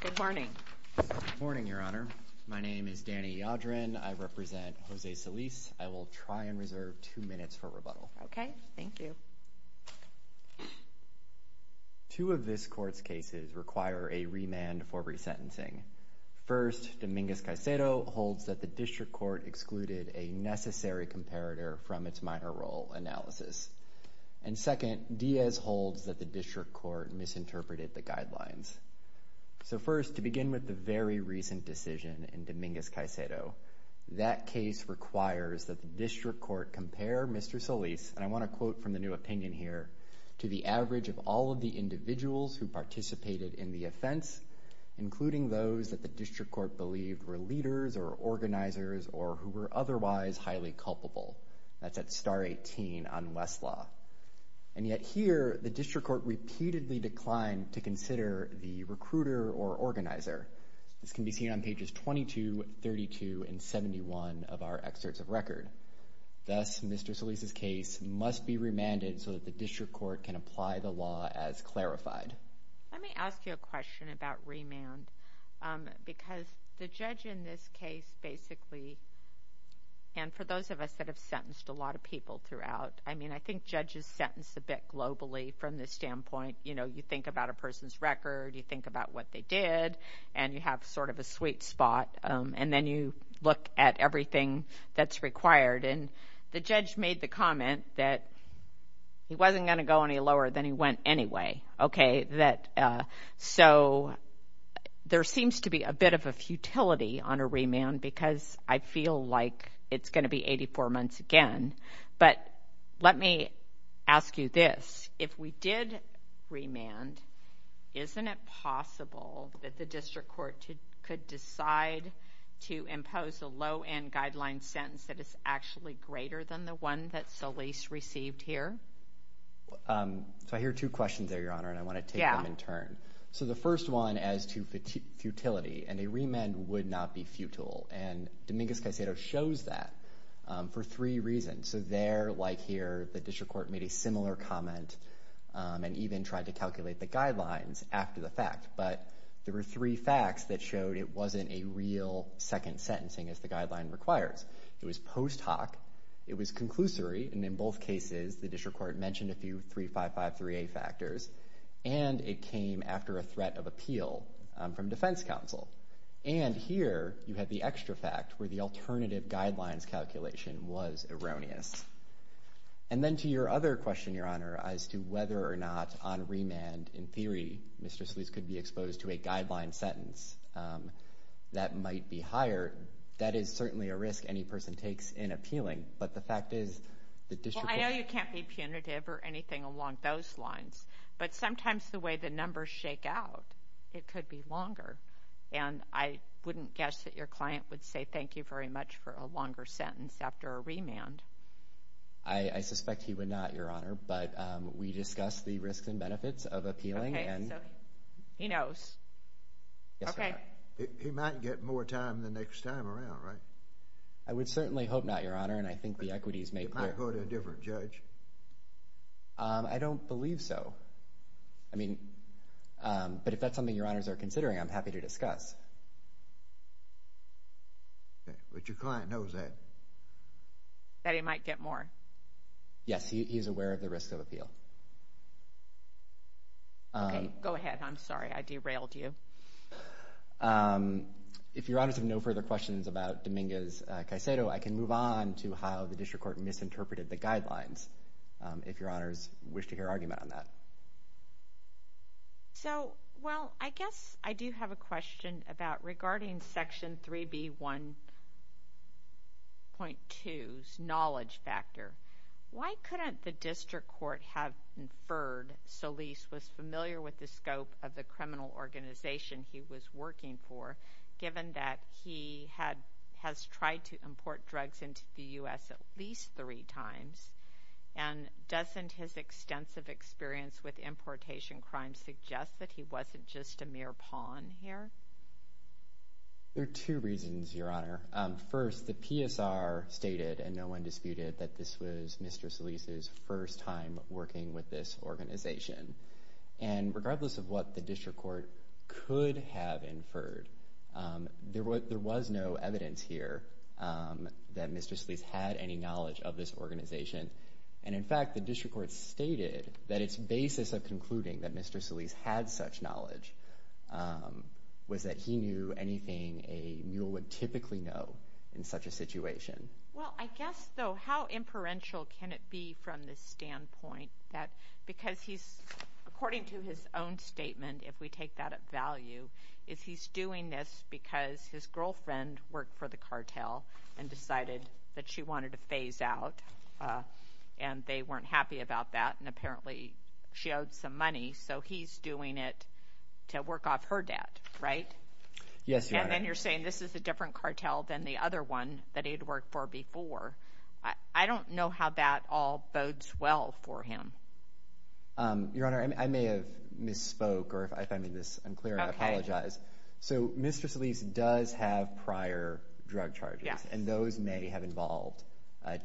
Good morning, your honor. My name is Danny Yadrin. I represent Jose Solis. I will try and reserve two minutes for rebuttal. Okay, thank you. Two of this court's cases require a remand for resentencing. First, Dominguez-Caicedo holds that the district court excluded a necessary comparator from its minor role analysis. And second, Diaz holds that the district court misinterpreted the guidelines. So first, to begin with the very recent decision in Dominguez-Caicedo, that case requires that the district court compare Mr. Solis, and I want to quote from the new opinion here, to the average of all of the individuals who participated in the offense, including those that the district court believed were leaders or organizers or who were otherwise highly culpable. That's at star 18 on Westlaw. And yet here, the district court repeatedly declined to consider the recruiter or organizer. This can be seen on pages 22, 32, and 71 of our excerpts of record. Thus, Mr. Solis' case must be remanded so that the district court can apply the law as clarified. Let me ask you a question about remand, because the judge in this case basically, and for those of us that have sentenced a lot of people throughout, I mean, I think judges sentence a bit globally from this standpoint. You know, you think about a person's record, you think about what they did, and you have sort of a sweet spot, and then you look at everything that's required. And the judge made the comment that he wasn't going to go any lower than he went anyway. Okay, that so there seems to be a bit of a futility on a remand because I feel like it's going to be 84 months again. But let me ask you this. If we did remand, isn't it possible that the district court could decide to impose a low-end guideline sentence that is actually greater than the one that Solis received here? So I hear two questions there, Your Honor, and I want to take them in turn. So the first one as to futility, and a remand would not be futile. And Dominguez-Caicedo shows that for three reasons. So there, like here, the district court made a similar comment and even tried to calculate the guidelines after the fact. But there were three facts that showed it wasn't a real second sentencing as the guideline requires. It was post hoc, it was conclusory, and in both cases the district court mentioned a few 3553A factors, and it came after a threat of appeal from defense counsel. And here you have the extra fact where the alternative guidelines calculation was erroneous. And then to your other question, Your Honor, as to whether or not on remand, in theory, Mr. Solis could be exposed to a guideline sentence that might be higher, that is certainly a risk any person takes in appealing. But the fact is, the district court... Well, I know you can't be punitive or anything along those lines, but sometimes the way the numbers shake out, it could be longer. And I wouldn't guess that your client would say thank you very much for a longer sentence after a remand. I suspect he would not, Your Honor, but we discussed the risks and benefits of appealing. Okay, so he knows. Yes, Your Honor. Okay. He might get more time the next time around, right? I would certainly hope not, Your Honor, and I think the equities may play a part. He might go to a different judge. I don't believe so. I mean, but if that's something Your Honors are considering, I'm happy to discuss. Okay, but your client knows that. That he might get more. Yes, he's aware of the risks of appeal. Okay, go ahead. I'm sorry. I derailed you. If Your Honors have no further questions about Dominguez-Caicedo, I can move on to how the district court misinterpreted the guidelines, if Your Honors wish to hear argument on that. So, well, I guess I do have a question about regarding Section 3B1.2's knowledge factor. Why couldn't the district court have inferred Solis was familiar with the scope of the criminal organization he was working for, given that he has tried to import drugs into the U.S. at least three times, and doesn't his extensive experience with importation crimes suggest that he wasn't just a mere pawn here? There are two reasons, Your Honor. First, the PSR stated, and no one disputed, that this was Mr. Solis' first time working with this organization. And regardless of what the district court could have inferred, there was no evidence here that Mr. Solis had any knowledge of this organization. And in fact, the district court stated that its basis of concluding that Mr. Solis had such knowledge was that he knew anything a mule would typically know in such a way. How inferential can it be from the standpoint that, because he's, according to his own statement, if we take that at value, is he's doing this because his girlfriend worked for the cartel and decided that she wanted to phase out, and they weren't happy about that, and apparently she owed some money, so he's doing it to work off her debt, right? Yes, Your Honor. And then you're saying this is a different cartel than the other one that he'd worked for before. I don't know how that all bodes well for him. Your Honor, I may have misspoke, or if I made this unclear, I apologize. So Mr. Solis does have prior drug charges, and those may have involved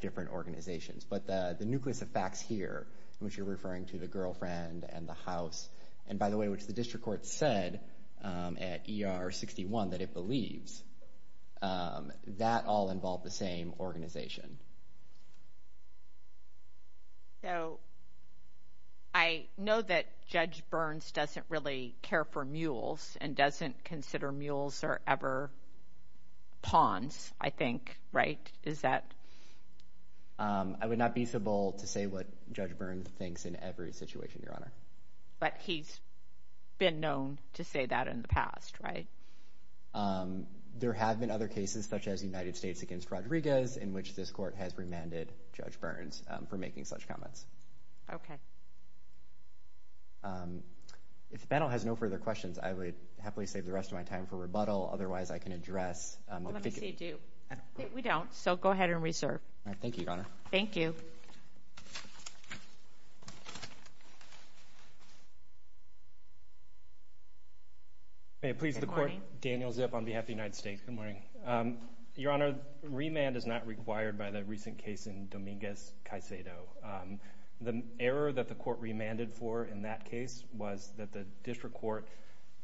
different organizations. But the nucleus of facts here, in which you're referring to the girlfriend and the house, and by the way which the district court said at ER 61 that it believes, that all involved the same organization. So I know that Judge Burns doesn't really care for mules and doesn't consider mules are ever pawns, I think, right? Is that... I would not be so bold to say what Judge Burns thinks in every situation, Your Honor. But he's been known to say that in the past, right? There have been other cases, such as United States against Rodriguez, in which this court has remanded Judge Burns for making such comments. Okay. If the panel has no further questions, I would happily save the rest of my time for rebuttal. Otherwise, I can address... Let me see, Duke. We don't, so go ahead and reserve. Thank you, Your Honor. Thank you. May it please the court. Daniel Zip on behalf of the United States. Good morning. Your Honor, remand is not required by the recent case in Dominguez-Caicedo. The error that the court remanded for in that case was that the district court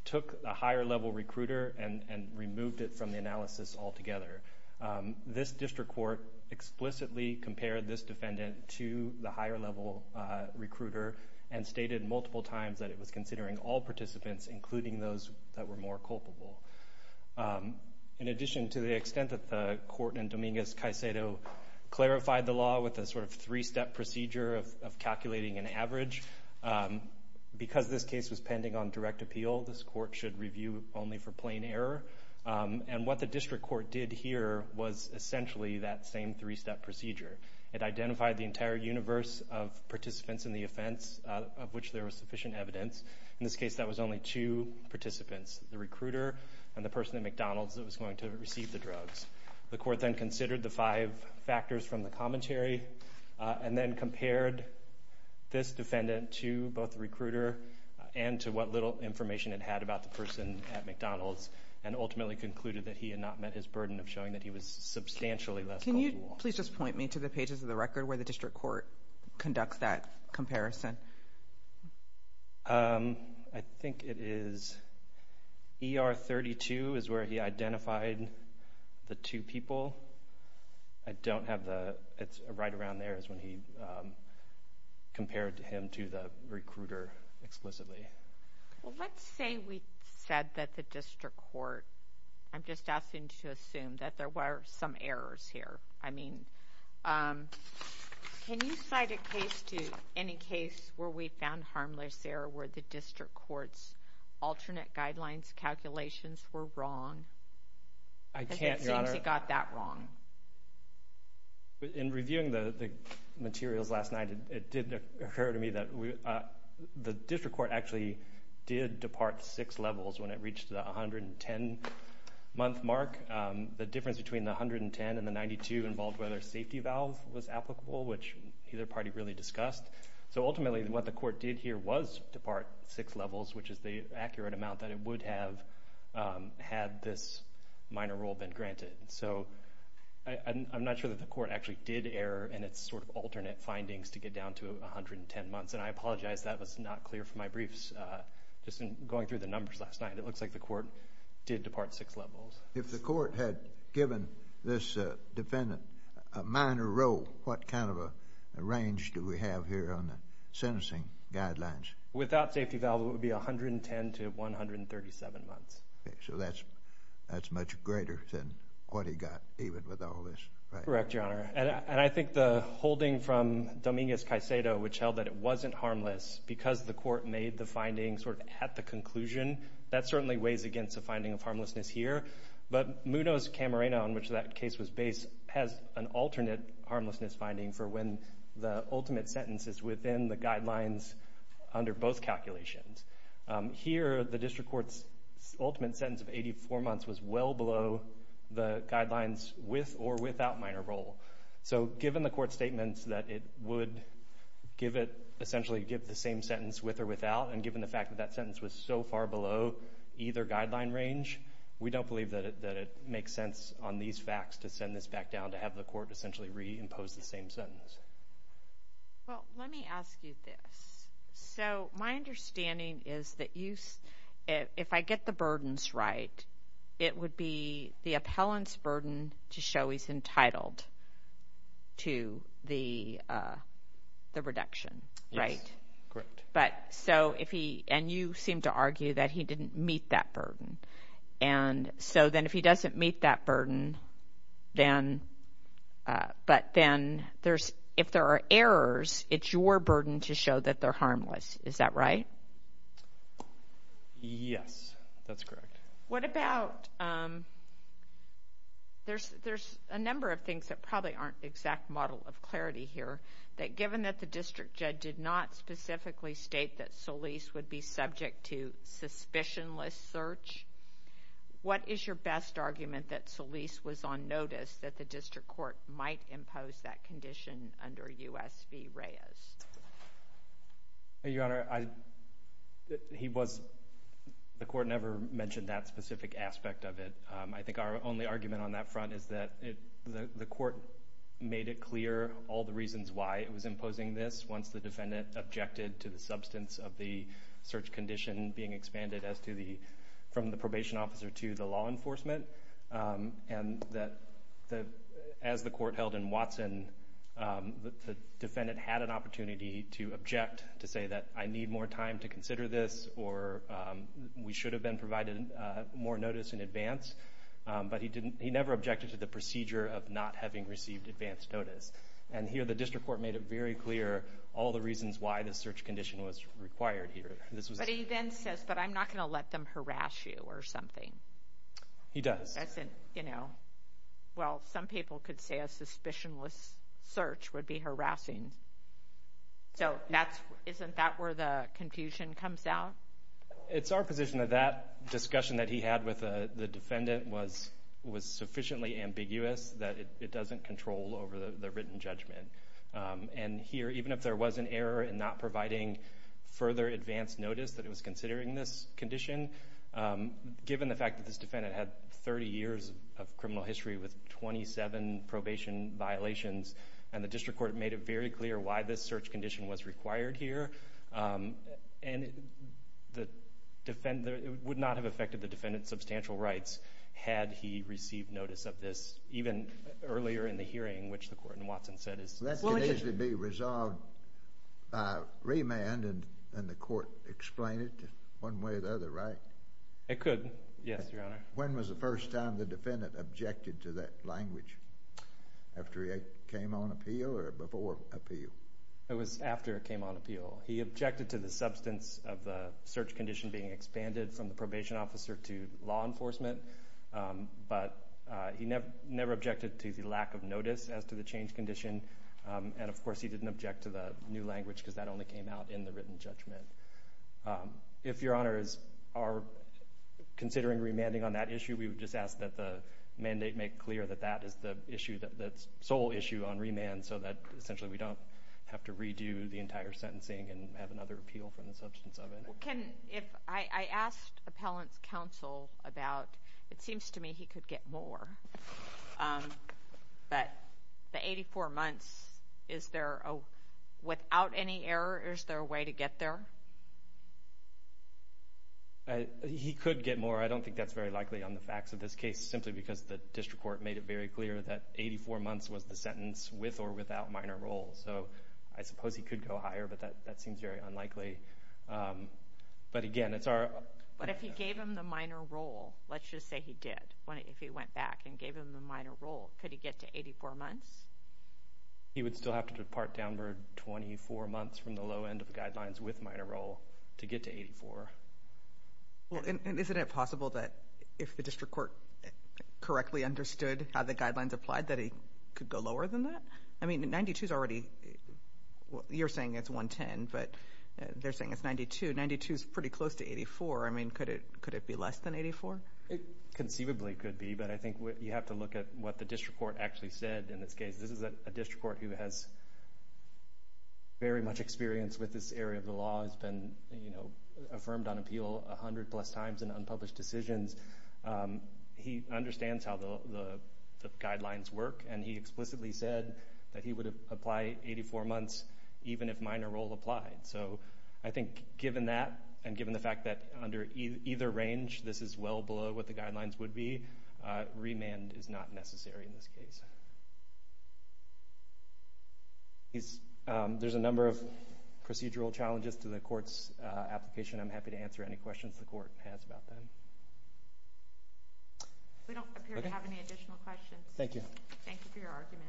took a higher level recruiter and removed it from the analysis altogether. This district court explicitly compared this defendant to the higher level recruiter and stated multiple times that it was considering all participants, including those that were more culpable. In addition to the extent that the court in Dominguez-Caicedo clarified the law with a sort of three-step procedure of calculating an error, and what the district court did here was essentially that same three-step procedure. It identified the entire universe of participants in the offense, of which there was sufficient evidence. In this case, that was only two participants, the recruiter and the person at McDonald's that was going to receive the drugs. The court then considered the five factors from the commentary and then compared this defendant to both the recruiter and to what little information it had about the person at McDonald's and ultimately concluded that he had not met his burden of showing that he was substantially less culpable. Can you please just point me to the pages of the record where the district court conducts that comparison? I think it is ER 32 is where he identified the two people. I don't have the, it's right around there is when he compared him to the recruiter explicitly. Well, let's say we said that the district court, I'm just asking to assume that there were some errors here. I mean, can you cite a case to, any case where we found harmless error where the district court's alternate guidelines calculations were wrong? I can't, Your Honor. It seems he got that wrong. But in reviewing the materials last night, it did occur to me that the district court actually did depart six levels when it reached the 110 month mark. The difference between the 110 and the 92 involved whether safety valve was applicable, which either party really discussed. So ultimately what the court did here was depart six levels, which is the accurate amount that it would have had this minor rule been granted. So I'm not sure that the court actually did error in its sort of alternate findings to get down to 110 months. And I apologize that was not clear from my briefs just in going through the numbers last night. It looks like the court did depart six levels. If the court had given this defendant a minor role, what kind of a range do we have here on the sentencing guidelines? Without safety valve, it would be 110 to 137 months. So that's much greater than what he got even with all this. Correct, Your Honor. And I think the holding from Dominguez-Caicedo, which held that it wasn't harmless because the court made the findings sort of at the conclusion, that certainly weighs against the finding of harmlessness here. But Munoz-Camarena, on which that case was based, has an alternate harmlessness finding for when the ultimate sentence is within the guidelines under both calculations. Here, the district court's ultimate sentence of 84 months was well below the guidelines with or without minor role. So given the court's statements that it would give it essentially give the same sentence with or without, and given the fact that that sentence was so far below either guideline range, we don't believe that it makes sense on these facts to send this back down to have the court essentially reimpose the same sentence. Well, let me ask you this. So my understanding is that you, if I get the burdens right, it would be the appellant's burden to show he's entitled to the reduction, right? Correct. But so if he, and you seem to argue that he didn't meet that burden. And so then if he doesn't meet that burden, then, but then there's, if there are errors, it's your burden to show that they're harmless. Is that right? Yes, that's correct. What about, there's a number of things that probably aren't exact model of clarity here, that given that the district judge did not specifically state that Solis would be subject to suspicionless search, what is your best argument that Solis was on notice that the district court might impose that condition under U.S. v. Reyes? Your Honor, I, he was, the court never mentioned that specific aspect of it. I think our only argument on that front is that it, the court made it clear all the reasons why it was imposing this once the defendant objected to the substance of the search condition being expanded as to the, from the probation officer to the law enforcement. And that the, as the court held in Watson, the defendant had an opportunity to object, to say that I need more time to consider this, or we should have been provided more notice in advance. But he didn't, he never objected to the all the reasons why the search condition was required here. But he then says, but I'm not going to let them harass you or something. He does. As in, you know, well, some people could say a suspicionless search would be harassing. So that's, isn't that where the confusion comes out? It's our position that that discussion that he had with the defendant was sufficiently ambiguous that it doesn't control over the written judgment. And here, even if there was an error in not providing further advance notice that it was considering this condition, given the fact that this defendant had 30 years of criminal history with 27 probation violations, and the district court made it very clear why this search condition was required here. And the defendant, it would not have affected the defendant's substantial rights had he received notice of this, even earlier in the hearing, which the court in Watson said is. That can easily be resolved by remand, and the court explain it one way or the other, right? It could, yes, Your Honor. When was the first time the defendant objected to that language? After it came on appeal or before appeal? It was after it came on appeal. He objected to the substance of the search condition being expanded from the probation officer to law enforcement, but he never objected to the lack of notice as to the change condition. And of course, he didn't object to the new language because that only came out in the written judgment. If Your Honor is, are considering remanding on that issue, we would just ask that the mandate make clear that that is the issue, that's sole issue on remand, so that essentially we don't have to redo the entire sentencing and have another appeal from the substance of it. Can, if, I asked appellant's counsel about, it seems to me he could get more, but the 84 months, is there, without any error, is there a way to get there? He could get more. I don't think that's very likely on the facts of this case, simply because the district court made it very clear that 84 months was the sentence with or without minor role. So, I suppose he could go higher, but that seems very unlikely. But again, it's our... But if he gave him the minor role, let's just say he did, if he went back and gave him the minor role, could he get to 84 months? He would still have to depart downward 24 months from the low end of the guidelines with minor role to get to 84. Well, and isn't it possible that if the district court correctly understood how the guidelines applied, that he could go lower than that? I mean, 92 is already, you're saying it's 110, but they're saying it's 92. 92 is pretty close to 84. I mean, could it be less than 84? It conceivably could be, but I think you have to look at what the district court actually said in this case. This is a district court who has very much experience with this area of the law, has been, you know, affirmed on appeal 100 plus times in unpublished decisions. He understands how the guidelines work, and he explicitly said that he would apply 84 months even if minor role applied. So, I think given that, and given the fact that under either range, this is well below what the guidelines would be, remand is not necessary in this case. There's a number of procedural challenges to the court's application. I'm happy to answer any questions the court has about them. We don't appear to have any additional questions. Thank you. Thank you for your argument.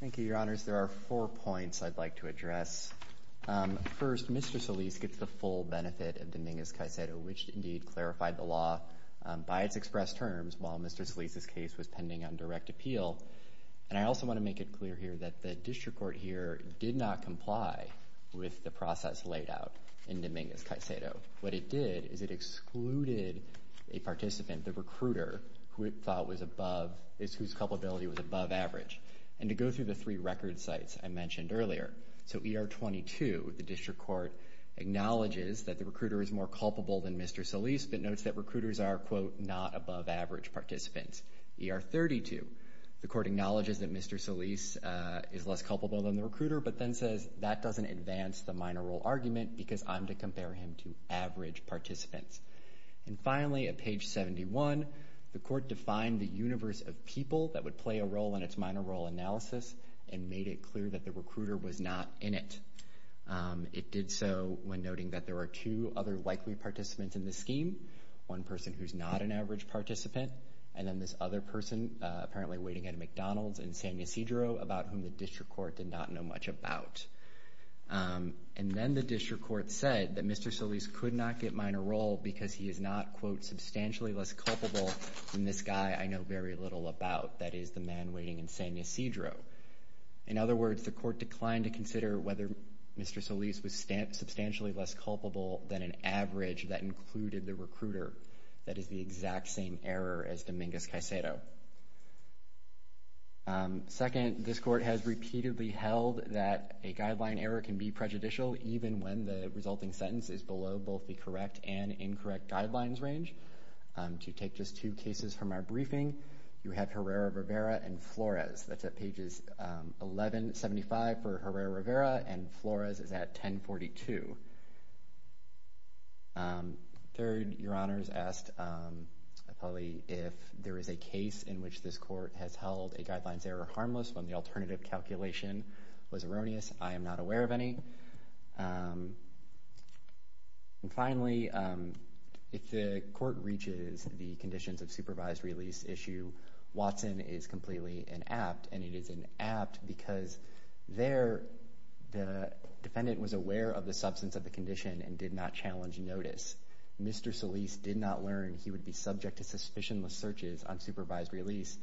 Thank you, your honors. There are four points I'd like to address. First, Mr. Solis gets the full benefit of Dominguez-Caicedo, which indeed clarified the law by its expressed terms while Mr. Solis's was pending on direct appeal. And I also want to make it clear here that the district court here did not comply with the process laid out in Dominguez-Caicedo. What it did is it excluded a participant, the recruiter, who it thought was above, whose culpability was above average. And to go through the three record sites I mentioned earlier, so ER 22, the district court acknowledges that the recruiter is more culpable than Mr. Solis, but notes that recruiters are, quote, not above average participants. ER 32, the court acknowledges that Mr. Solis is less culpable than the recruiter, but then says that doesn't advance the minor role argument because I'm to compare him to average participants. And finally, at page 71, the court defined the universe of people that would play a role in its minor role analysis and made it clear that the recruiter was not in it. It did so when noting that there are two other likely participants in the scheme, one person who's not an average participant, and then this other person, apparently waiting at a McDonald's in San Ysidro, about whom the district court did not know much about. And then the district court said that Mr. Solis could not get minor role because he is not, quote, substantially less culpable than this guy I know very little about, that is the man waiting in San Ysidro. In other words, the court declined to consider whether Mr. Solis was substantially less culpable than an average that included the recruiter, that is the exact same error as Dominguez-Caicedo. Second, this court has repeatedly held that a guideline error can be prejudicial even when the resulting sentence is below both the correct and incorrect guidelines range. To take just two cases from our briefing, you have Herrera-Rivera and Flores. That's at pages 1175 for Herrera-Rivera and Flores is at 1042. Third, your honors asked if there is a case in which this court has held a guidelines error harmless when the alternative calculation was erroneous. I am not aware of any. And finally, if the court reaches the conditions of supervised release issue, Watson is completely inapt and it is inapt because there the defendant was aware of the substance of the condition and did not challenge notice. Mr. Solis did not learn he would be subject to suspicionless searches on supervised release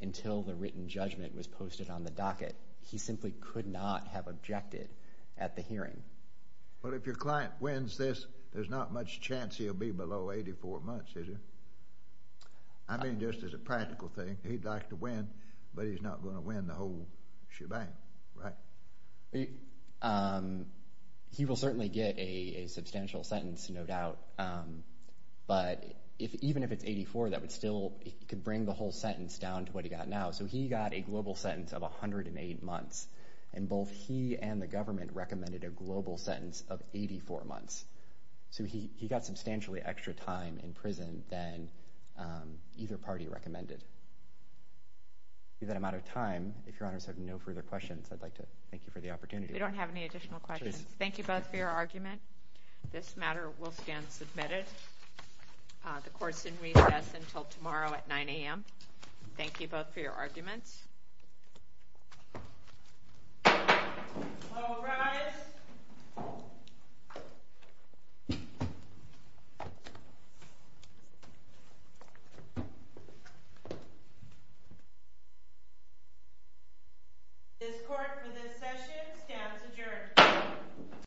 until the written judgment was posted on the docket. He simply could not have objected at the hearing. But if your client wins this, there's not much chance he'll be below 84 months, is there? I mean, just as a practical thing, he'd like to win, but he's not going to win the whole shebang, right? He will certainly get a substantial sentence, no doubt. But even if it's 84, that would still could bring the whole sentence down to what he got now. So he got a global sentence of 108 months. And both he and the So he got substantially extra time in prison than either party recommended. With that amount of time, if your honors have no further questions, I'd like to thank you for the opportunity. We don't have any additional questions. Thank you both for your argument. This matter will stand submitted. The court's in recess until tomorrow at 9 a.m. Thank you both for your time. This court for this session stands adjourned.